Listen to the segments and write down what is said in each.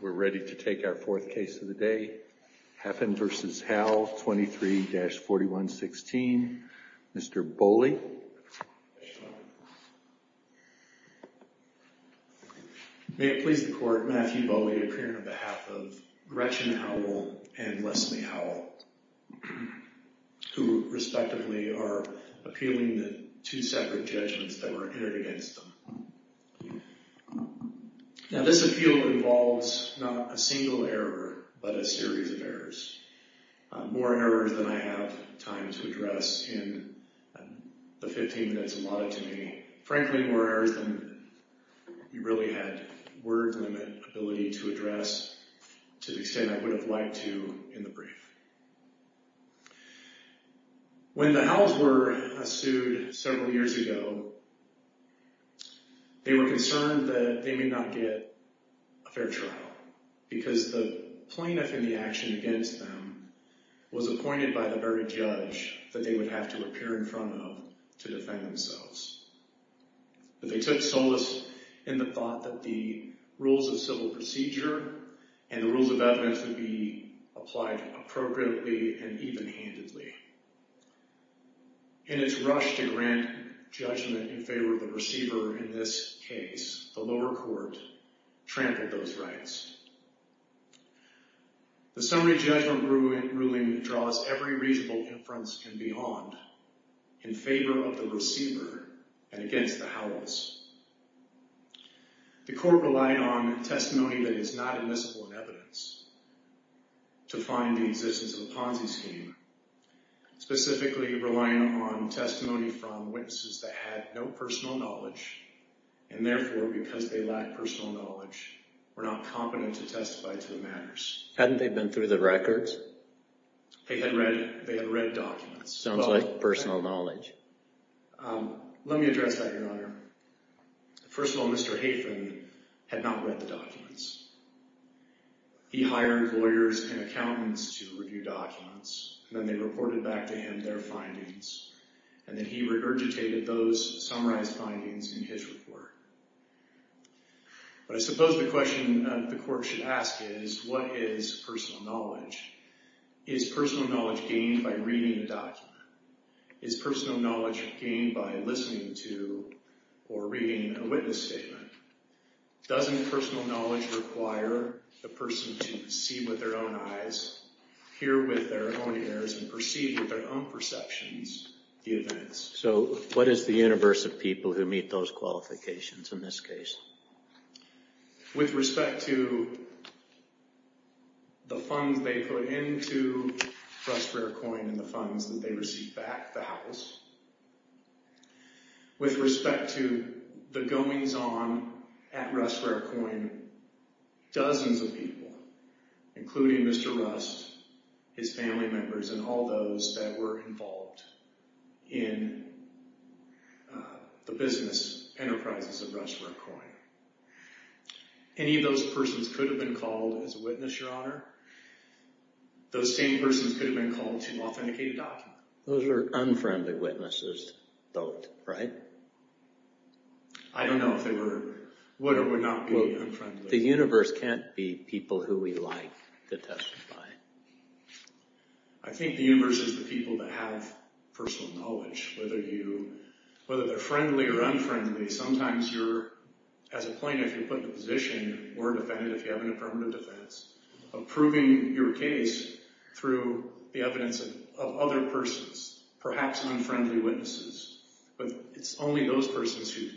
We're ready to take our fourth case of the day, Hafen v. Howell, 23-4116, Mr. Bowley. May it please the court, Matthew Bowley appearing on behalf of Gretchen Howell and Leslie Howell, who respectively are appealing the two separate judgments that were entered against them. Now this appeal involves not a single error, but a series of errors. More errors than I have time to address in the 15 minutes allotted to me. Frankly, more errors than we really had word-limit ability to address, to the extent I would have liked to in the brief. When the Howells were sued several years ago, they were concerned that they may not get a fair trial, because the plaintiff in the action against them was appointed by the very judge that they would have to appear in front of to defend themselves. But they took solace in the thought that the rules of civil procedure and the rules of evidence would be applied appropriately and even-handedly. In its rush to grant judgment in favor of the receiver in this case, the lower court trampled those rights. The summary judgment ruling draws every reasonable inference and beyond in favor of the receiver and against the Howells. The court relied on testimony that is not admissible in evidence to find the existence of a Ponzi scheme, specifically relying on testimony from witnesses that had no personal knowledge, and therefore, because they lacked personal knowledge, were not competent to testify to the matters. Hadn't they been through the records? They had read documents. Sounds like personal knowledge. Let me address that, Your Honor. First of all, Mr. Hafen had not read the documents. He hired lawyers and accountants to review documents, and then they reported back to him their findings, and then he regurgitated those summarized findings in his report. But I suppose the question the court should ask is, what is personal knowledge? Is personal knowledge gained by reading a document? Is personal knowledge gained by listening to or reading a witness statement? Doesn't personal knowledge require the person to see with their own eyes, hear with their own ears, and perceive with their own perceptions the events? So what is the universe of people who meet those qualifications in this case? With respect to the funds they put into Russ Rarecoin and the funds that they received back, the Howells, with respect to the goings-on at Russ Rarecoin, dozens of people, including Mr. Rust, his family members, and all those that were involved in the business enterprises of Russ Rarecoin. Any of those persons could have been called as a witness, Your Honor. Those same persons could have been called to authenticate a document. Those are unfriendly witnesses, though, right? I don't know if they were, would or would not be unfriendly. The universe can't be people who we like to testify. I think the universe is the people that have personal knowledge, whether they're friendly or unfriendly. Sometimes you're, as a plaintiff, you're put in a position, or a defendant if you have an affirmative defense, of proving your case through the evidence of other persons, perhaps unfriendly witnesses. But it's only those persons who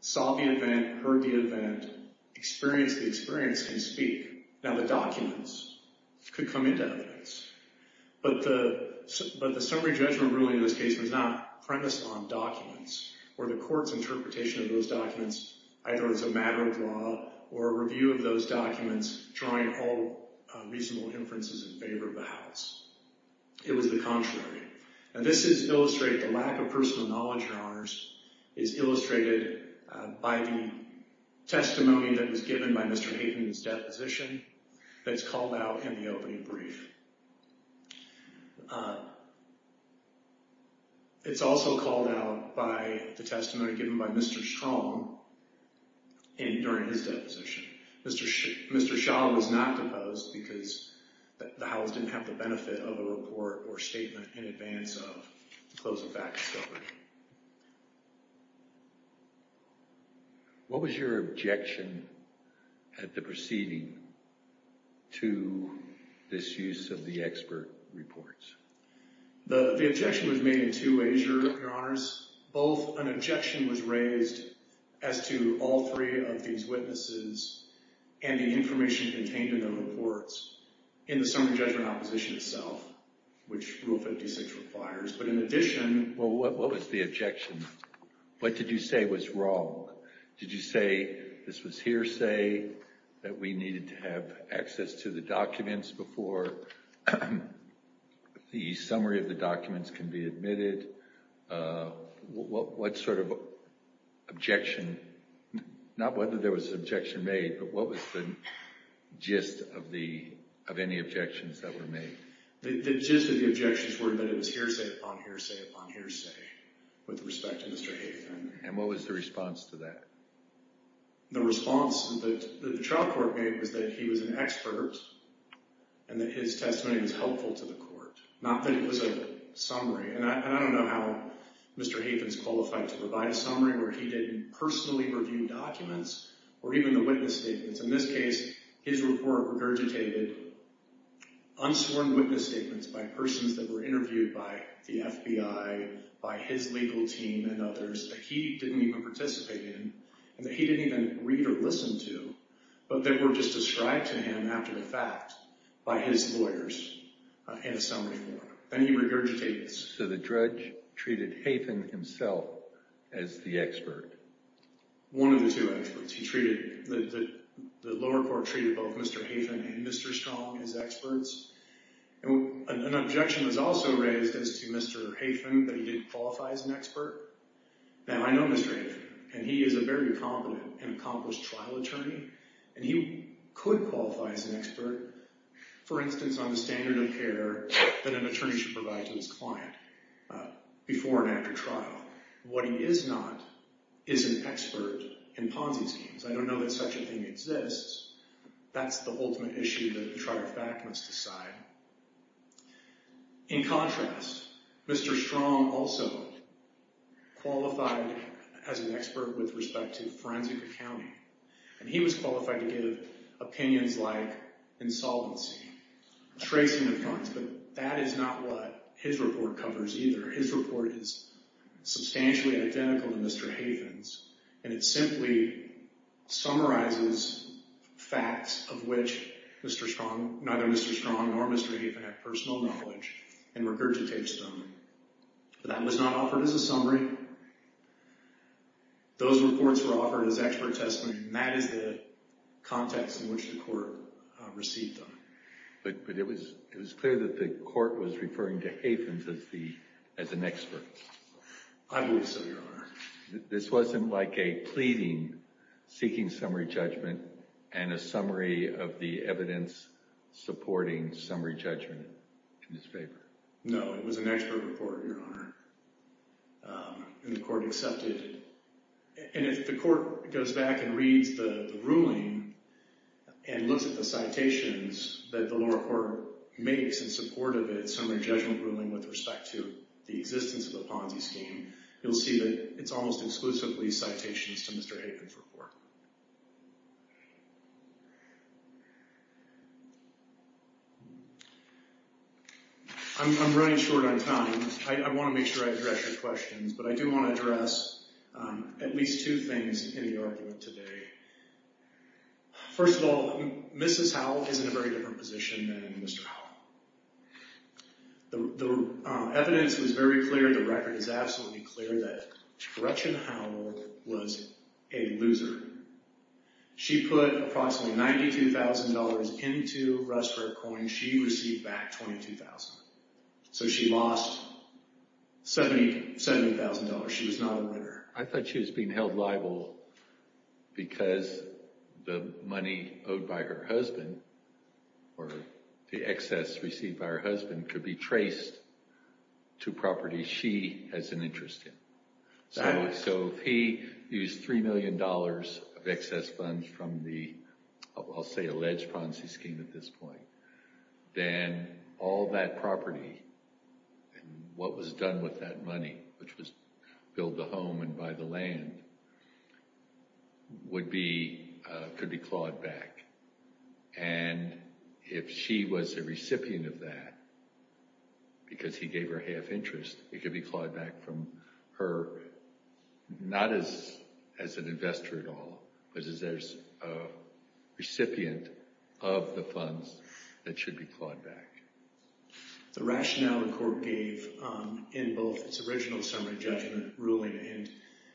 saw the event, heard the event, experienced the experience, can speak. Now, the documents could come into evidence. But the summary judgment ruling in this case was not premised on documents, or the court's interpretation of those documents either as a matter of law or a review of those documents drawing all reasonable inferences in favor of the House. It was the contrary. Now, this is illustrated, the lack of personal knowledge, Your Honors, is illustrated by the testimony that was given by Mr. Hayden in his deposition that's called out in the opening brief. It's also called out by the testimony given by Mr. Schaum during his deposition. Mr. Schaum was not deposed because the House didn't have the benefit of a report or statement in advance of the close of back discovery. What was your objection at the proceeding to this use of the expert reports? The objection was made in two ways, Your Honors. Both, an objection was raised as to all three of these witnesses and the information contained in the reports in the summary judgment opposition itself, which Rule 56 requires. What was the objection? What did you say was wrong? Did you say this was hearsay, that we needed to have access to the documents before the summary of the documents can be admitted? What sort of objection, not whether there was an objection made, but what was the gist of any objections that were made? The gist of the objections were that it was hearsay upon hearsay upon hearsay with respect to Mr. Hayden. And what was the response to that? The response that the trial court made was that he was an expert and that his testimony was helpful to the court, not that it was a summary. And I don't know how Mr. Hayden is qualified to provide a summary where he didn't personally review documents or even the witness statements. In this case, his report regurgitated unsworn witness statements by persons that were interviewed by the FBI, by his legal team and others that he didn't even participate in and that he didn't even read or listen to, but that were just described to him after the fact by his lawyers in a summary form. And he regurgitated this. So the judge treated Hayden himself as the expert? One of the two experts. The lower court treated both Mr. Hayden and Mr. Strong as experts. An objection was also raised as to Mr. Hayden that he didn't qualify as an expert. Now, I know Mr. Hayden, and he is a very competent and accomplished trial attorney, and he could qualify as an expert, for instance, on the standard of care that an attorney should provide to his client before and after trial. What he is not is an expert in Ponzi schemes. I don't know that such a thing exists. That's the ultimate issue that the trial fact must decide. In contrast, Mr. Strong also qualified as an expert with respect to forensic accounting, and he was qualified to give opinions like insolvency, tracing of funds, but that is not what his report covers either. His report is substantially identical to Mr. Hayden's, and it simply summarizes facts of which Mr. Strong, neither Mr. Strong nor Mr. Hayden have personal knowledge and regurgitates them. That was not offered as a summary. Those reports were offered as expert testimony, and that is the context in which the court received them. But it was clear that the court was referring to Hayden as an expert. I believe so, Your Honor. This wasn't like a pleading seeking summary judgment and a summary of the evidence supporting summary judgment in his favor. No, it was an expert report, Your Honor, and the court accepted it. If the court goes back and reads the ruling and looks at the citations that the lower court makes in support of its summary judgment ruling with respect to the existence of the Ponzi scheme, you'll see that it's almost exclusively citations to Mr. Hayden's report. I'm running short on time. I want to make sure I address your questions, but I do want to address at least two things in the argument today. First of all, Mrs. Howell is in a very different position than Mr. Howell. The evidence was very clear. The record is absolutely clear that Gretchen Howell was a loser. She put approximately $92,000 into Russ Rare Coins. She received back $22,000. So she lost $70,000. She was not a winner. I thought she was being held liable because the money owed by her husband or the excess received by her husband could be traced to properties she has an interest in. So if he used $3 million of excess funds from the, I'll say, alleged Ponzi scheme at this point, then all that property and what was done with that money, which was build the home and buy the land, would be, could be clawed back. And if she was a recipient of that, because he gave her half interest, it could be clawed back from her, not as an investor at all, but as a recipient of the funds that should be clawed back. The rationale the court gave in both its original summary judgment ruling and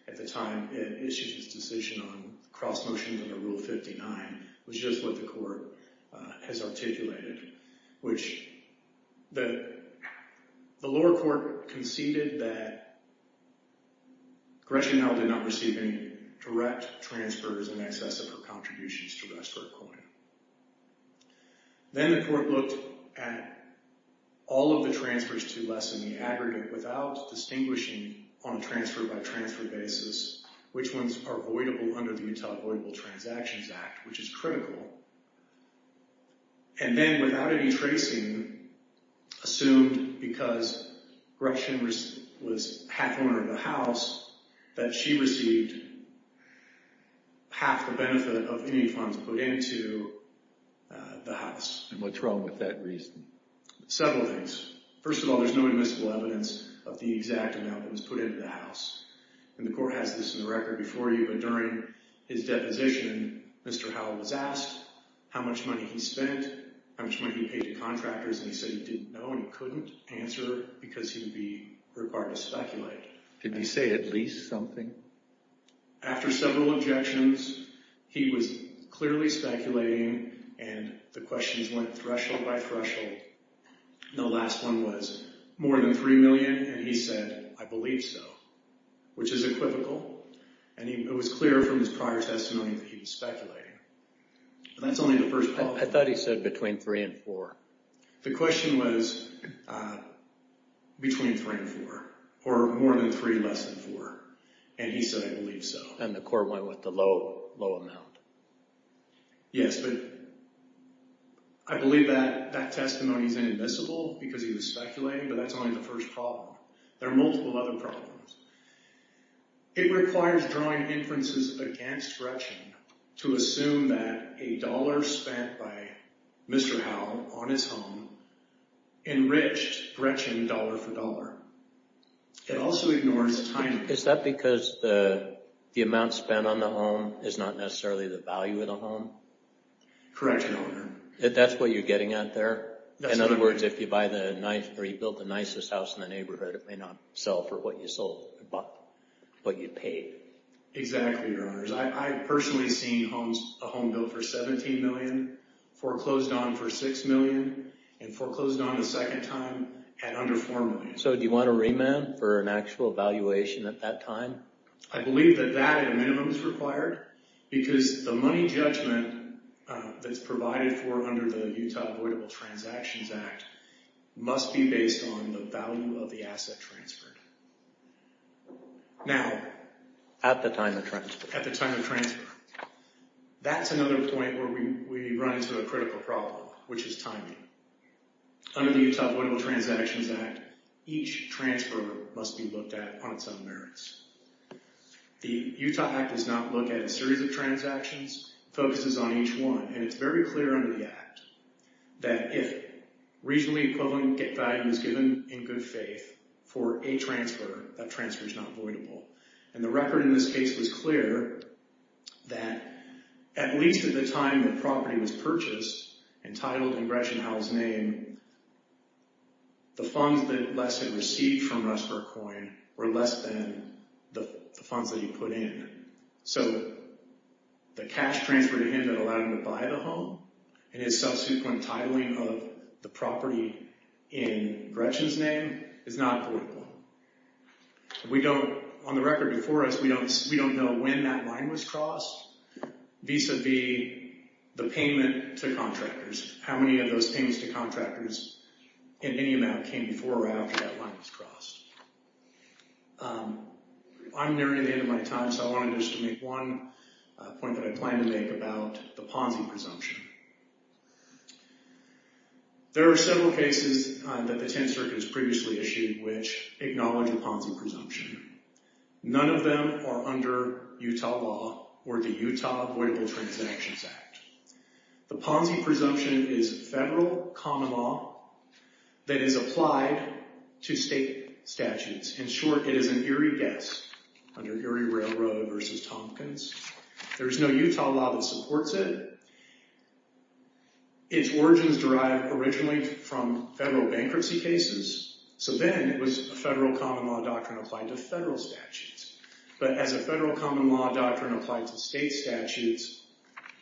at the time it issued its decision on cross-motion under Rule 59 was just what the court has articulated, which the lower court conceded that Gretchen Howell did not receive any direct transfers in excess of her contributions to Westford Coin. Then the court looked at all of the transfers to less than the aggregate without distinguishing on a transfer-by-transfer basis which ones are voidable under the Utah Voidable Transactions Act, which is critical. And then without any tracing, assumed because Gretchen was half owner of the house, that she received half the benefit of any funds put into the house. And what's wrong with that reason? Several things. First of all, there's no admissible evidence of the exact amount that was put into the house. And the court has this in the record before you, but during his deposition, Mr. Howell was asked how much money he spent, how much money he paid to contractors, and he said he didn't know and couldn't answer because he would be required to speculate. Did he say at least something? After several objections, he was clearly speculating, and the questions went threshold by threshold. The last one was more than $3 million, and he said, I believe so, which is equivocal. And it was clear from his prior testimony that he was speculating. That's only the first part. I thought he said between three and four. The question was between three and four, or more than three, less than four, and he said, I believe so. And the court went with the low amount. Yes, but I believe that testimony is inadmissible because he was speculating, but that's only the first problem. There are multiple other problems. It requires drawing inferences against Gretchen to assume that a dollar spent by Mr. Howell on his home enriched Gretchen dollar for dollar. It also ignores timing. Is that because the amount spent on the home is not necessarily the value of the home? Correct, Your Honor. That's what you're getting at there? In other words, if you buy the nice or you built the nicest house in the neighborhood, it may not sell for what you sold, what you paid. Exactly, Your Honors. I've personally seen a home built for $17 million, foreclosed on for $6 million, and foreclosed on a second time at under $4 million. So do you want a remand for an actual valuation at that time? I believe that that, at a minimum, is required because the money judgment that's provided for under the Utah Avoidable Transactions Act must be based on the value of the asset transferred. Now… At the time of transfer. At the time of transfer. That's another point where we run into a critical problem, which is timing. Under the Utah Avoidable Transactions Act, each transfer must be looked at on its own merits. The Utah Act does not look at a series of transactions. It focuses on each one, and it's very clear under the act that if regionally equivalent value is given in good faith for a transfer, that transfer is not avoidable. And the record in this case was clear that at least at the time the property was purchased and titled in Gretchen Howell's name, the funds that Les had received from Russ for a coin were less than the funds that he put in. So the cash transfer to him that allowed him to buy the home and his subsequent titling of the property in Gretchen's name is not avoidable. We don't… On the record before us, we don't know when that line was crossed vis-à-vis the payment to contractors, how many of those payments to contractors and any amount came before or after that line was crossed. I'm nearing the end of my time, so I wanted just to make one point that I plan to make about the Ponzi presumption. There are several cases that the 10th Circuit has previously issued which acknowledge the Ponzi presumption. None of them are under Utah law or the Utah Avoidable Transactions Act. The Ponzi presumption is federal common law that is applied to state statutes. In short, it is an Erie guess under Erie Railroad versus Tompkins. There is no Utah law that supports it. Its origins derive originally from federal bankruptcy cases, so then it was a federal common law doctrine applied to federal statutes. But as a federal common law doctrine applied to state statutes,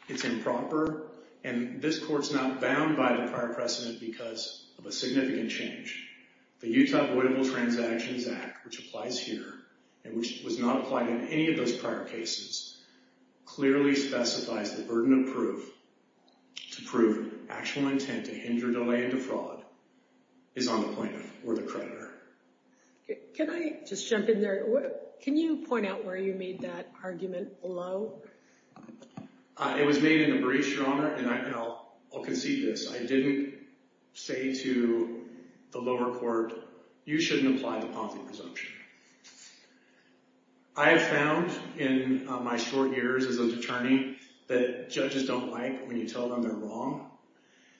it's improper and this court's not bound by the prior precedent because of a significant change. The Utah Avoidable Transactions Act, which applies here and which was not applied in any of those prior cases, clearly specifies the burden of proof to prove actual intent to hinder delay into fraud is on the plaintiff or the creditor. Can I just jump in there? Can you point out where you made that argument below? It was made in the briefs, Your Honor, and I'll concede this. I didn't say to the lower court, you shouldn't apply the Ponzi presumption. I have found in my short years as an attorney that judges don't like when you tell them they're wrong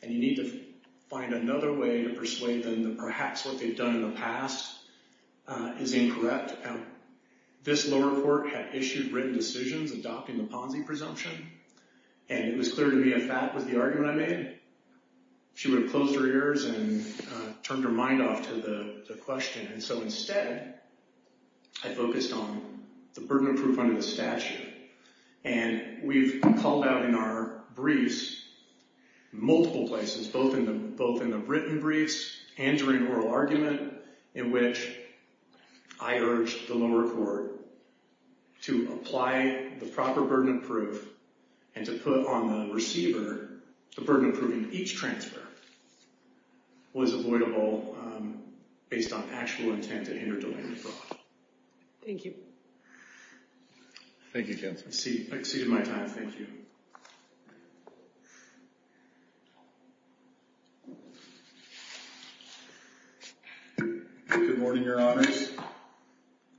and you need to find another way to persuade them that perhaps what they've done in the past is incorrect. This lower court had issued written decisions adopting the Ponzi presumption and it was clear to me if that was the argument I made, she would have closed her ears and turned her mind off to the question. So instead, I focused on the burden of proof under the statute and we've called out in our briefs multiple places, both in the written briefs and during oral argument, in which I urged the lower court to apply the proper burden of proof and to put on the receiver the burden of proof in each transfer was avoidable based on actual intent to hinder delay into fraud. Thank you. Thank you, counsel. Exceeded my time. Thank you. Good morning, Your Honors.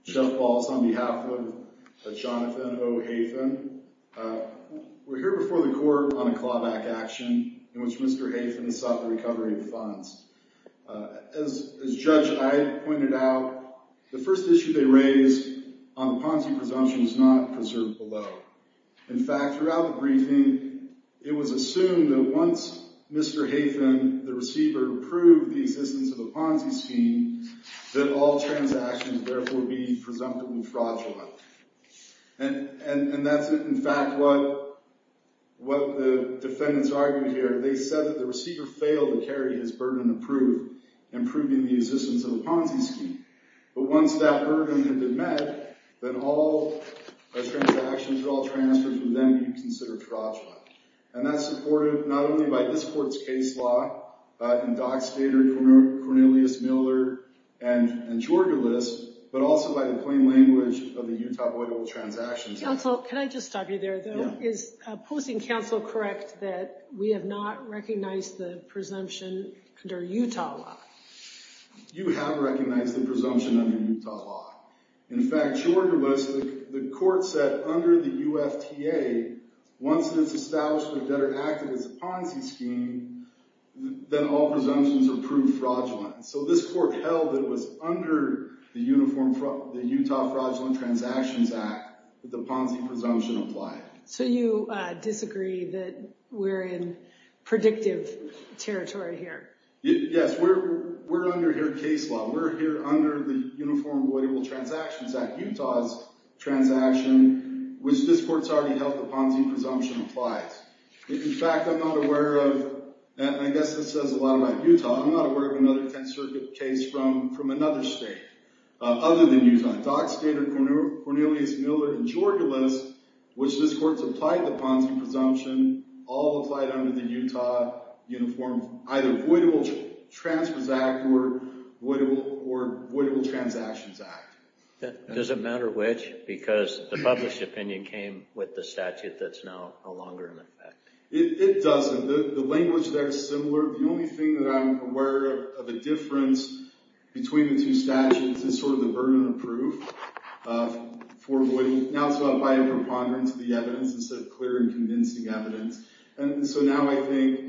Jeff Balz on behalf of Jonathan O. Hafen. We're here before the court on a clawback action in which Mr. Hafen sought the recovery of funds. As Judge I pointed out, the first issue they raised on the Ponzi presumption is not preserved below. In fact, throughout the briefing, it was assumed that once Mr. Hafen, the receiver, proved the existence of a Ponzi scheme, that all transactions would therefore be presumptively fraudulent. And that's in fact what the defendants argued here. They said that the receiver failed to carry his burden of proof in proving the existence of a Ponzi scheme. But once that burden had been met, then all transactions, all transfers would then be considered fraudulent. And that's supported not only by this court's case law in Dockstader, Cornelius, Miller, and Georgulis, but also by the plain language of the Utah Voidable Transactions Act. Counsel, can I just stop you there, though? Is posting counsel correct that we have not recognized the presumption under Utah law? You have recognized the presumption under Utah law. In fact, Georgulis, the court said under the UFTA, once it's established the debtor acted as a Ponzi scheme, then all presumptions are proved fraudulent. So this court held it was under the Utah Fraudulent Transactions Act that the Ponzi presumption applied. So you disagree that we're in predictive territory here? Yes, we're under here case law. We're here under the Uniform Voidable Transactions Act, Utah's transaction, which this court's already held the Ponzi presumption applies. In fact, I'm not aware of, and I guess this says a lot about Utah, I'm not aware of another Tenth Circuit case from another state other than Utah. Dockstader, Cornelius, Miller, and Georgulis, which this court's applied the Ponzi presumption, all applied under the Utah Uniform either Voidable Transfers Act or Voidable Transactions Act. Does it matter which? Because the published opinion came with the statute that's now no longer in effect. It doesn't. The language there is similar. The only thing that I'm aware of a difference between the two statutes is sort of the burden of proof for voiding. So now it's about prior preponderance of the evidence instead of clear and convincing evidence. And so now I think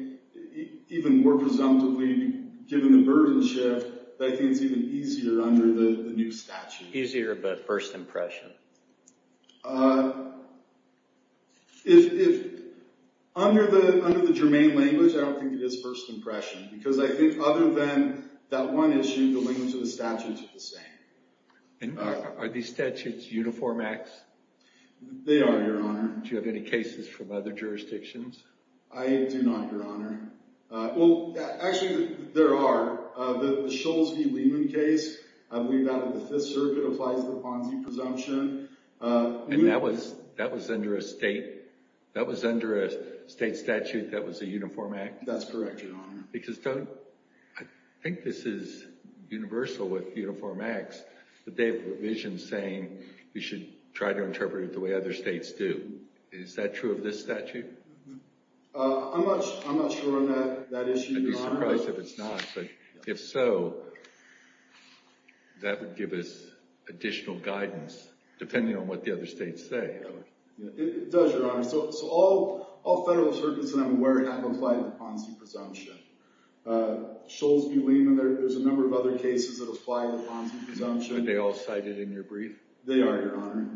even more presumptively, given the burden shift, I think it's even easier under the new statute. Easier, but first impression. Under the germane language, I don't think it is first impression because I think other than that one issue, the language of the statutes are the same. Are these statutes Uniform Acts? They are, Your Honor. Do you have any cases from other jurisdictions? I do not, Your Honor. Well, actually there are. The Scholes v. Lehman case, I believe out of the Fifth Circuit, applies the Ponzi presumption. And that was under a state statute that was a Uniform Act? That's correct, Your Honor. Because I think this is universal with Uniform Acts, that they have a provision saying you should try to interpret it the way other states do. Is that true of this statute? I'm not sure on that issue, Your Honor. I'd be surprised if it's not. But if so, that would give us additional guidance depending on what the other states say. It does, Your Honor. So all federal circuits that I'm aware of have applied the Ponzi presumption. Scholes v. Lehman, there's a number of other cases that apply the Ponzi presumption. Are they all cited in your brief? They are, Your Honor.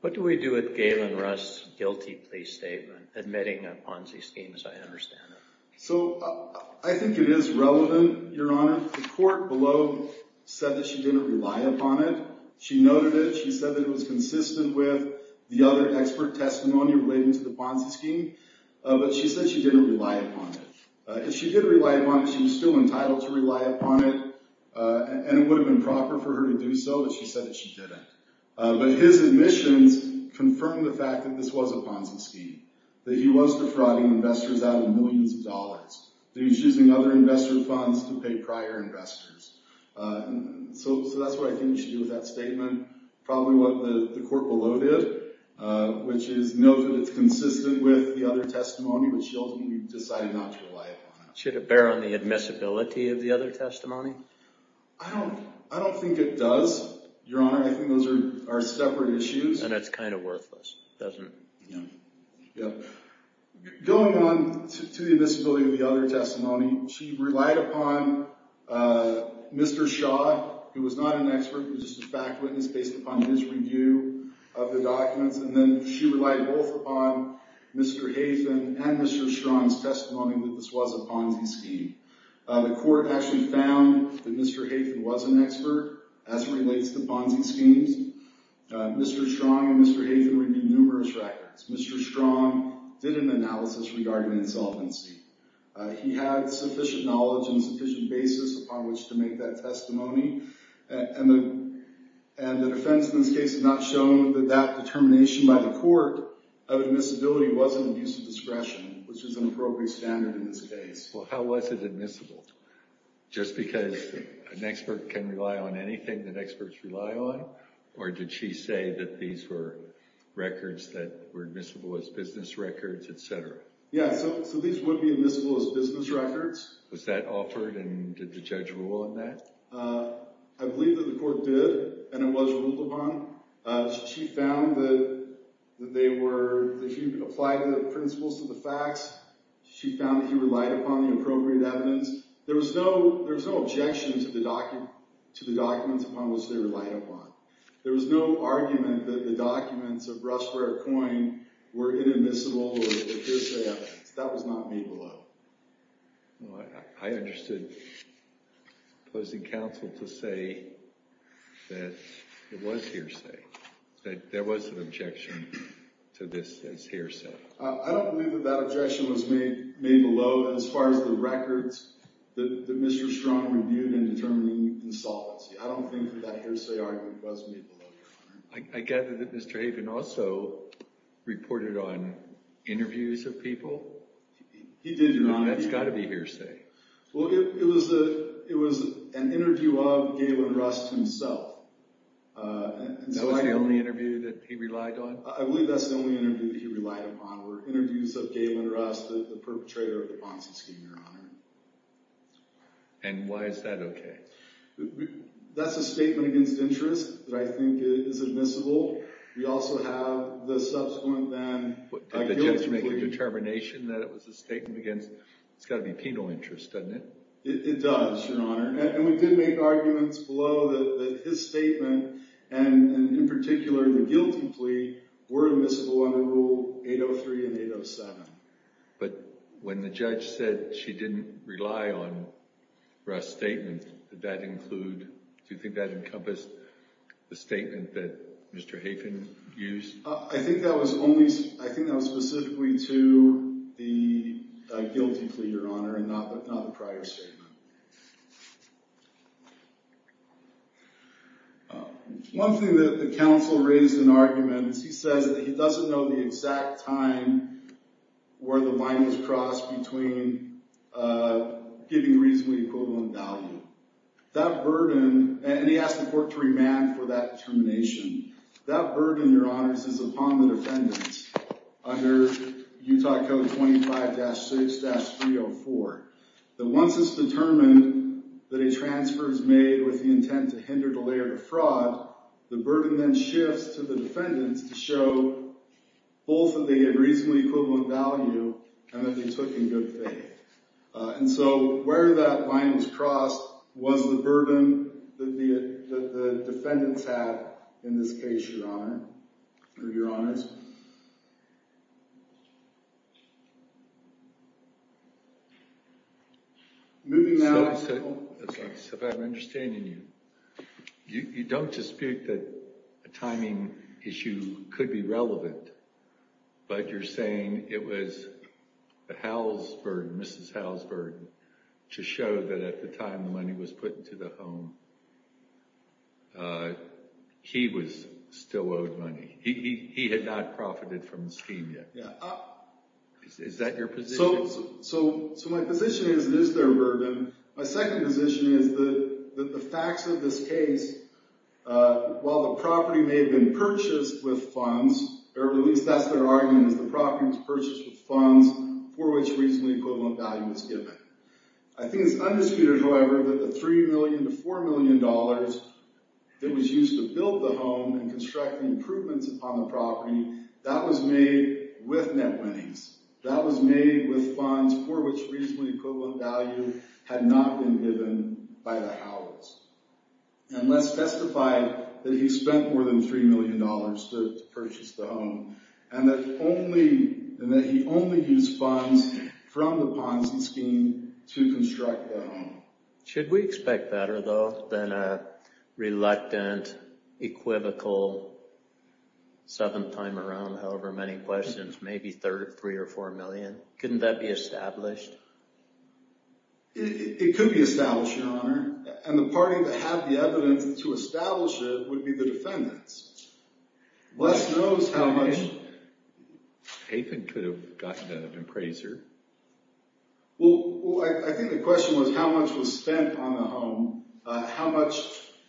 What do we do with Galen Russ's guilty plea statement, admitting a Ponzi scheme, as I understand it? So I think it is relevant, Your Honor. The court below said that she didn't rely upon it. She noted it. She said that it was consistent with the other expert testimony relating to the Ponzi scheme. But she said she didn't rely upon it. If she did rely upon it, she was still entitled to rely upon it, and it would have been proper for her to do so, but she said that she didn't. But his admissions confirmed the fact that this was a Ponzi scheme, that he was defrauding investors out of millions of dollars. That he was using other investor funds to pay prior investors. So that's what I think we should do with that statement. Probably what the court below did, which is note that it's consistent with the other testimony, but she ultimately decided not to rely upon it. Should it bear on the admissibility of the other testimony? I don't think it does, Your Honor. I think those are separate issues. And it's kind of worthless, doesn't it? Yeah. Going on to the admissibility of the other testimony, she relied upon Mr. Shaw, who was not an expert, just a fact witness based upon his review of the documents. And then she relied both upon Mr. Haytham and Mr. Strong's testimony that this was a Ponzi scheme. The court actually found that Mr. Haytham was an expert, as relates to Ponzi schemes. Mr. Strong and Mr. Haytham reviewed numerous records. Mr. Strong did an analysis regarding insolvency. He had sufficient knowledge and sufficient basis upon which to make that testimony. And the defense in this case has not shown that that determination by the court of admissibility was an abuse of discretion, which is an appropriate standard in this case. Well, how was it admissible? Just because an expert can rely on anything that experts rely on? Or did she say that these were records that were admissible as business records, et cetera? Yeah, so these would be admissible as business records. Was that offered, and did the judge rule on that? I believe that the court did, and it was ruled upon. She found that they were... She applied the principles to the facts. She found that he relied upon the appropriate evidence. There was no objection to the documents upon which they relied upon. There was no argument that the documents of Rushware Coin were inadmissible or hearsay evidence. That was not made below. I understood opposing counsel to say that it was hearsay, that there was an objection to this as hearsay. I don't believe that that objection was made below as far as the records that Mr. Strong reviewed in determining insolvency. I don't think that that hearsay argument was made below. I gather that Mr. Haven also reported on interviews of people. He did, Your Honor. That's got to be hearsay. Well, it was an interview of Galen Rust himself. That was the only interview that he relied on? I believe that's the only interview that he relied upon were interviews of Galen Rust, the perpetrator of the Ponzi scheme, Your Honor. And why is that okay? That's a statement against interest that I think is admissible. We also have the subsequent then... Did the judge make a determination that it was a statement against? It's got to be penal interest, doesn't it? It does, Your Honor. And we did make arguments below that his statement and in particular the guilty plea were admissible under Rule 803 and 807. But when the judge said she didn't rely on Rust's statement, did that include, do you think that encompassed the statement that Mr. Haven used? I think that was only... I think that was specifically to the guilty plea, Your Honor, and not the prior statement. One thing that the counsel raised in arguments, he says that he doesn't know the exact time where the line was crossed between giving reasonably equivalent value. That burden... And he asked the court to remand for that determination. That burden, Your Honors, is upon the defendants under Utah Code 25-6-304, that once it's determined that a transfer is made with the intent to hinder, delay, or defraud, the burden then shifts to the defendants to show both that they gave reasonably equivalent value and that they took in good faith. And so where that line was crossed was the burden that the defendants have, in this case, Your Honor, or Your Honors. Moving now... So if I'm understanding you, you don't dispute that a timing issue could be relevant, but you're saying it was the Howell's burden, Mrs. Howell's burden, to show that at the time the money was put into the home, he was still owed money. He had not profited from the scheme yet. Is that your position? So my position is it is their burden. My second position is that the facts of this case, while the property may have been purchased with funds, or at least that's their argument, is the property was purchased with funds for which reasonably equivalent value was given. I think it's undisputed, however, that the $3 million to $4 million that was used to build the home and construct the improvements on the property, that was made with net winnings. That was made with funds for which reasonably equivalent value had not been given by the Howells. And let's testify that he spent more than $3 million to purchase the home and that he only used funds from the Ponzi scheme to construct the home. Should we expect better, though, than a reluctant, equivocal, seventh time around, however many questions, maybe $3 or $4 million? Couldn't that be established? It could be established, Your Honor. And the party that had the evidence to establish it would be the defendants. Les knows how much... Nathan could have gotten an appraiser. Well, I think the question was how much was spent on the home, how much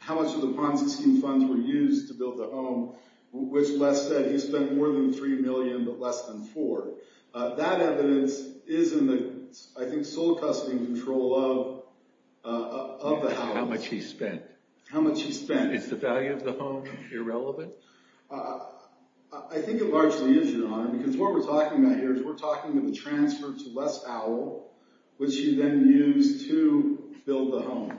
of the Ponzi scheme funds were used to build the home, which Les said he spent more than $3 million but less than $4. That evidence is in the, I think, sole custody and control of the Howells. How much he spent. How much he spent. Is the value of the home irrelevant? I think it largely is, Your Honor, because what we're talking about here is we're talking of the transfer to Les Howell, which he then used to build the home.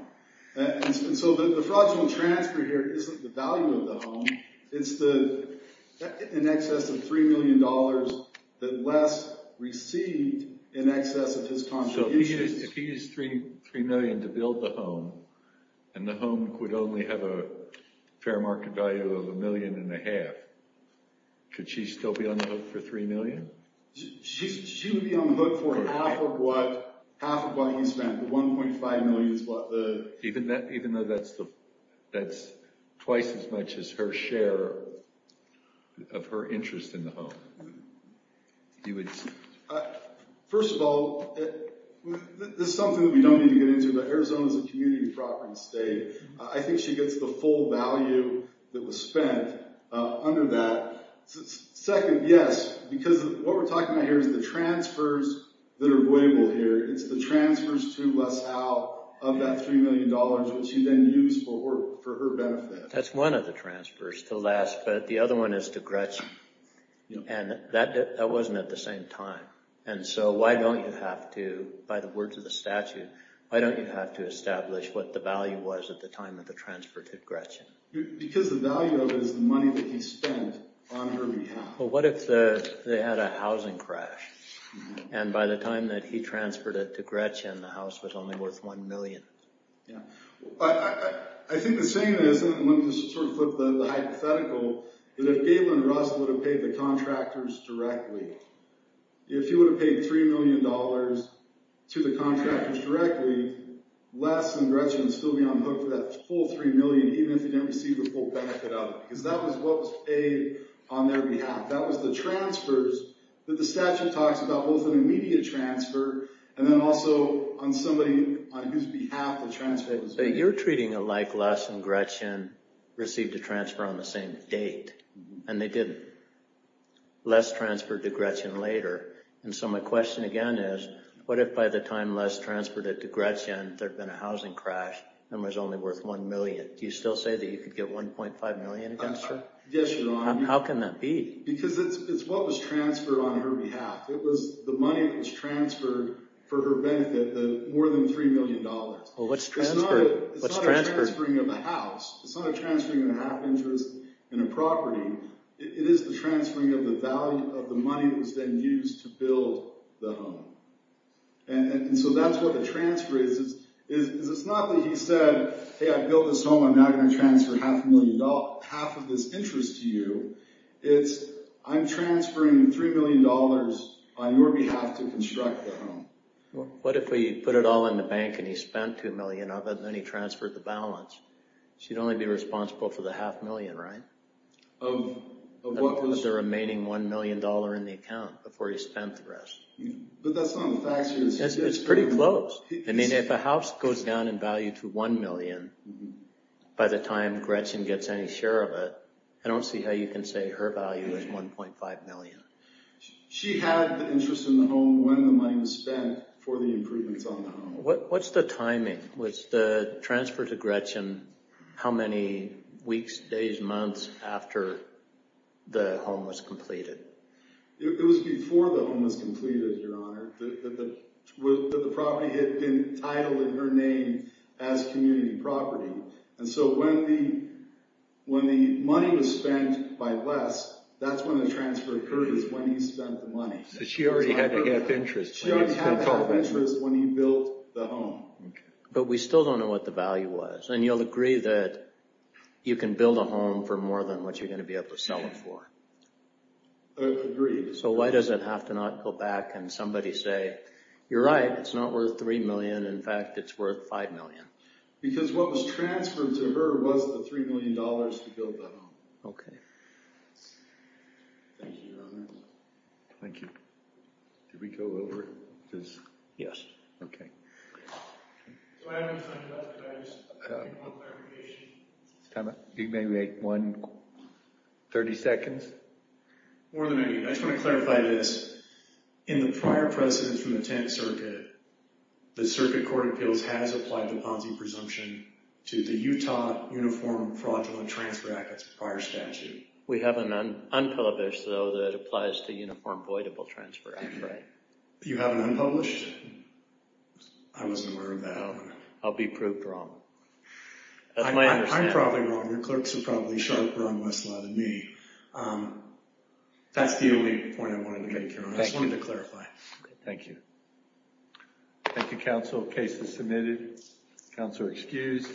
And so the fraudulent transfer here isn't the value of the home, it's in excess of $3 million that Les received in excess of his contributions. So if he used $3 million to build the home and the home would only have a fair market value of $1.5 million, could she still be unhooked for $3 million? She would be unhooked for half of what he spent, the $1.5 million. Even though that's twice as much as her share of her interest in the home? First of all, this is something that we don't need to get into, but Arizona's a community property state. I think she gets the full value that was spent under that. Second, yes, because what we're talking about here is the transfers that are avoidable here. It's the transfers to Les Howell of that $3 million which he then used for her benefit. That's one of the transfers to Les, but the other one is to Gretchen. And that wasn't at the same time. And so why don't you have to, by the words of the statute, why don't you have to establish what the value was at the time of the transfer to Gretchen? Because the value of it is the money that he spent on her behalf. But what if they had a housing crash? And by the time that he transferred it to Gretchen, the house was only worth $1 million. Yeah. I think the saying is, and I want to just sort of flip the hypothetical, that if Gailen Russ would have paid the contractors directly, if she would have paid $3 million to the contractors directly, Les and Gretchen would still be on hook for that full $3 million, even if they didn't receive the full benefit of it. Because that was what was paid on their behalf. That was the transfers that the statute talks about, both an immediate transfer, and then also on somebody, on whose behalf the transfer was made. But you're treating it like Les and Gretchen received a transfer on the same date, and they didn't. Les transferred to Gretchen later. And so my question again is, what if by the time Les transferred it to Gretchen, there'd been a housing crash, and it was only worth $1 million? Do you still say that you could get $1.5 million against her? Yes, Your Honor. How can that be? Because it's what was transferred on her behalf. It was the money that was transferred for her benefit, the more than $3 million. Well, what's transferred? It's not a transferring of a house. It's not a transferring of a half interest in a property. It is the transferring of the value of the money that was then used to build the home. And so that's what a transfer is. It's not that he said, hey, I built this home, I'm now going to transfer half a million dollars, half of this interest to you. It's, I'm transferring $3 million on your behalf to construct the home. What if he put it all in the bank, and he spent $2 million of it, and then he transferred the balance? She'd only be responsible for the half million, right? Of what was... of what was the remaining $1 million in the account before he spent the rest. But that's not a fax. It's pretty close. I mean, if a house goes down in value to $1 million, by the time Gretchen gets any share of it, I don't see how you can say her value is $1.5 million. She had the interest in the home when the money was spent for the improvements on the home. What's the timing? Was the transfer to Gretchen how many weeks, days, months after the home was completed? It was before the home was completed, Your Honor, that the property had been titled in her name as community property. And so when the money was spent by Les, that's when the transfer occurred, is when he spent the money. So she already had the half interest. She already had the half interest when he built the home. But we still don't know what the value was. And you'll agree that you can build a home for more than what you're going to be able to sell it for? Agreed. So why does it have to not go back and somebody say, you're right, it's not worth $3 million. In fact, it's worth $5 million. Because what was transferred to her was the $3 million to build that home. Okay. Thank you, Your Honor. Thank you. Did we go over it? Yes. Okay. So I haven't thought about the values. Do you want clarification? Do you maybe want 30 seconds? More than I need. I just want to clarify this. In the prior precedence from the 10th Circuit, the Circuit Court of Appeals has applied the Ponzi presumption to the Utah Uniform Fraudulent Transfer Act, that's a prior statute. We have an unpublished, though, that applies to Uniform Voidable Transfer Act, right? You have an unpublished? I wasn't aware of that. I'll be proved wrong. That's my understanding. I'm probably wrong. Your clerks are probably sharper on my side than me. That's the only point I wanted to make, Your Honor. Thank you. I just wanted to clarify. Thank you. Thank you, counsel. Case is submitted. Counselor excused.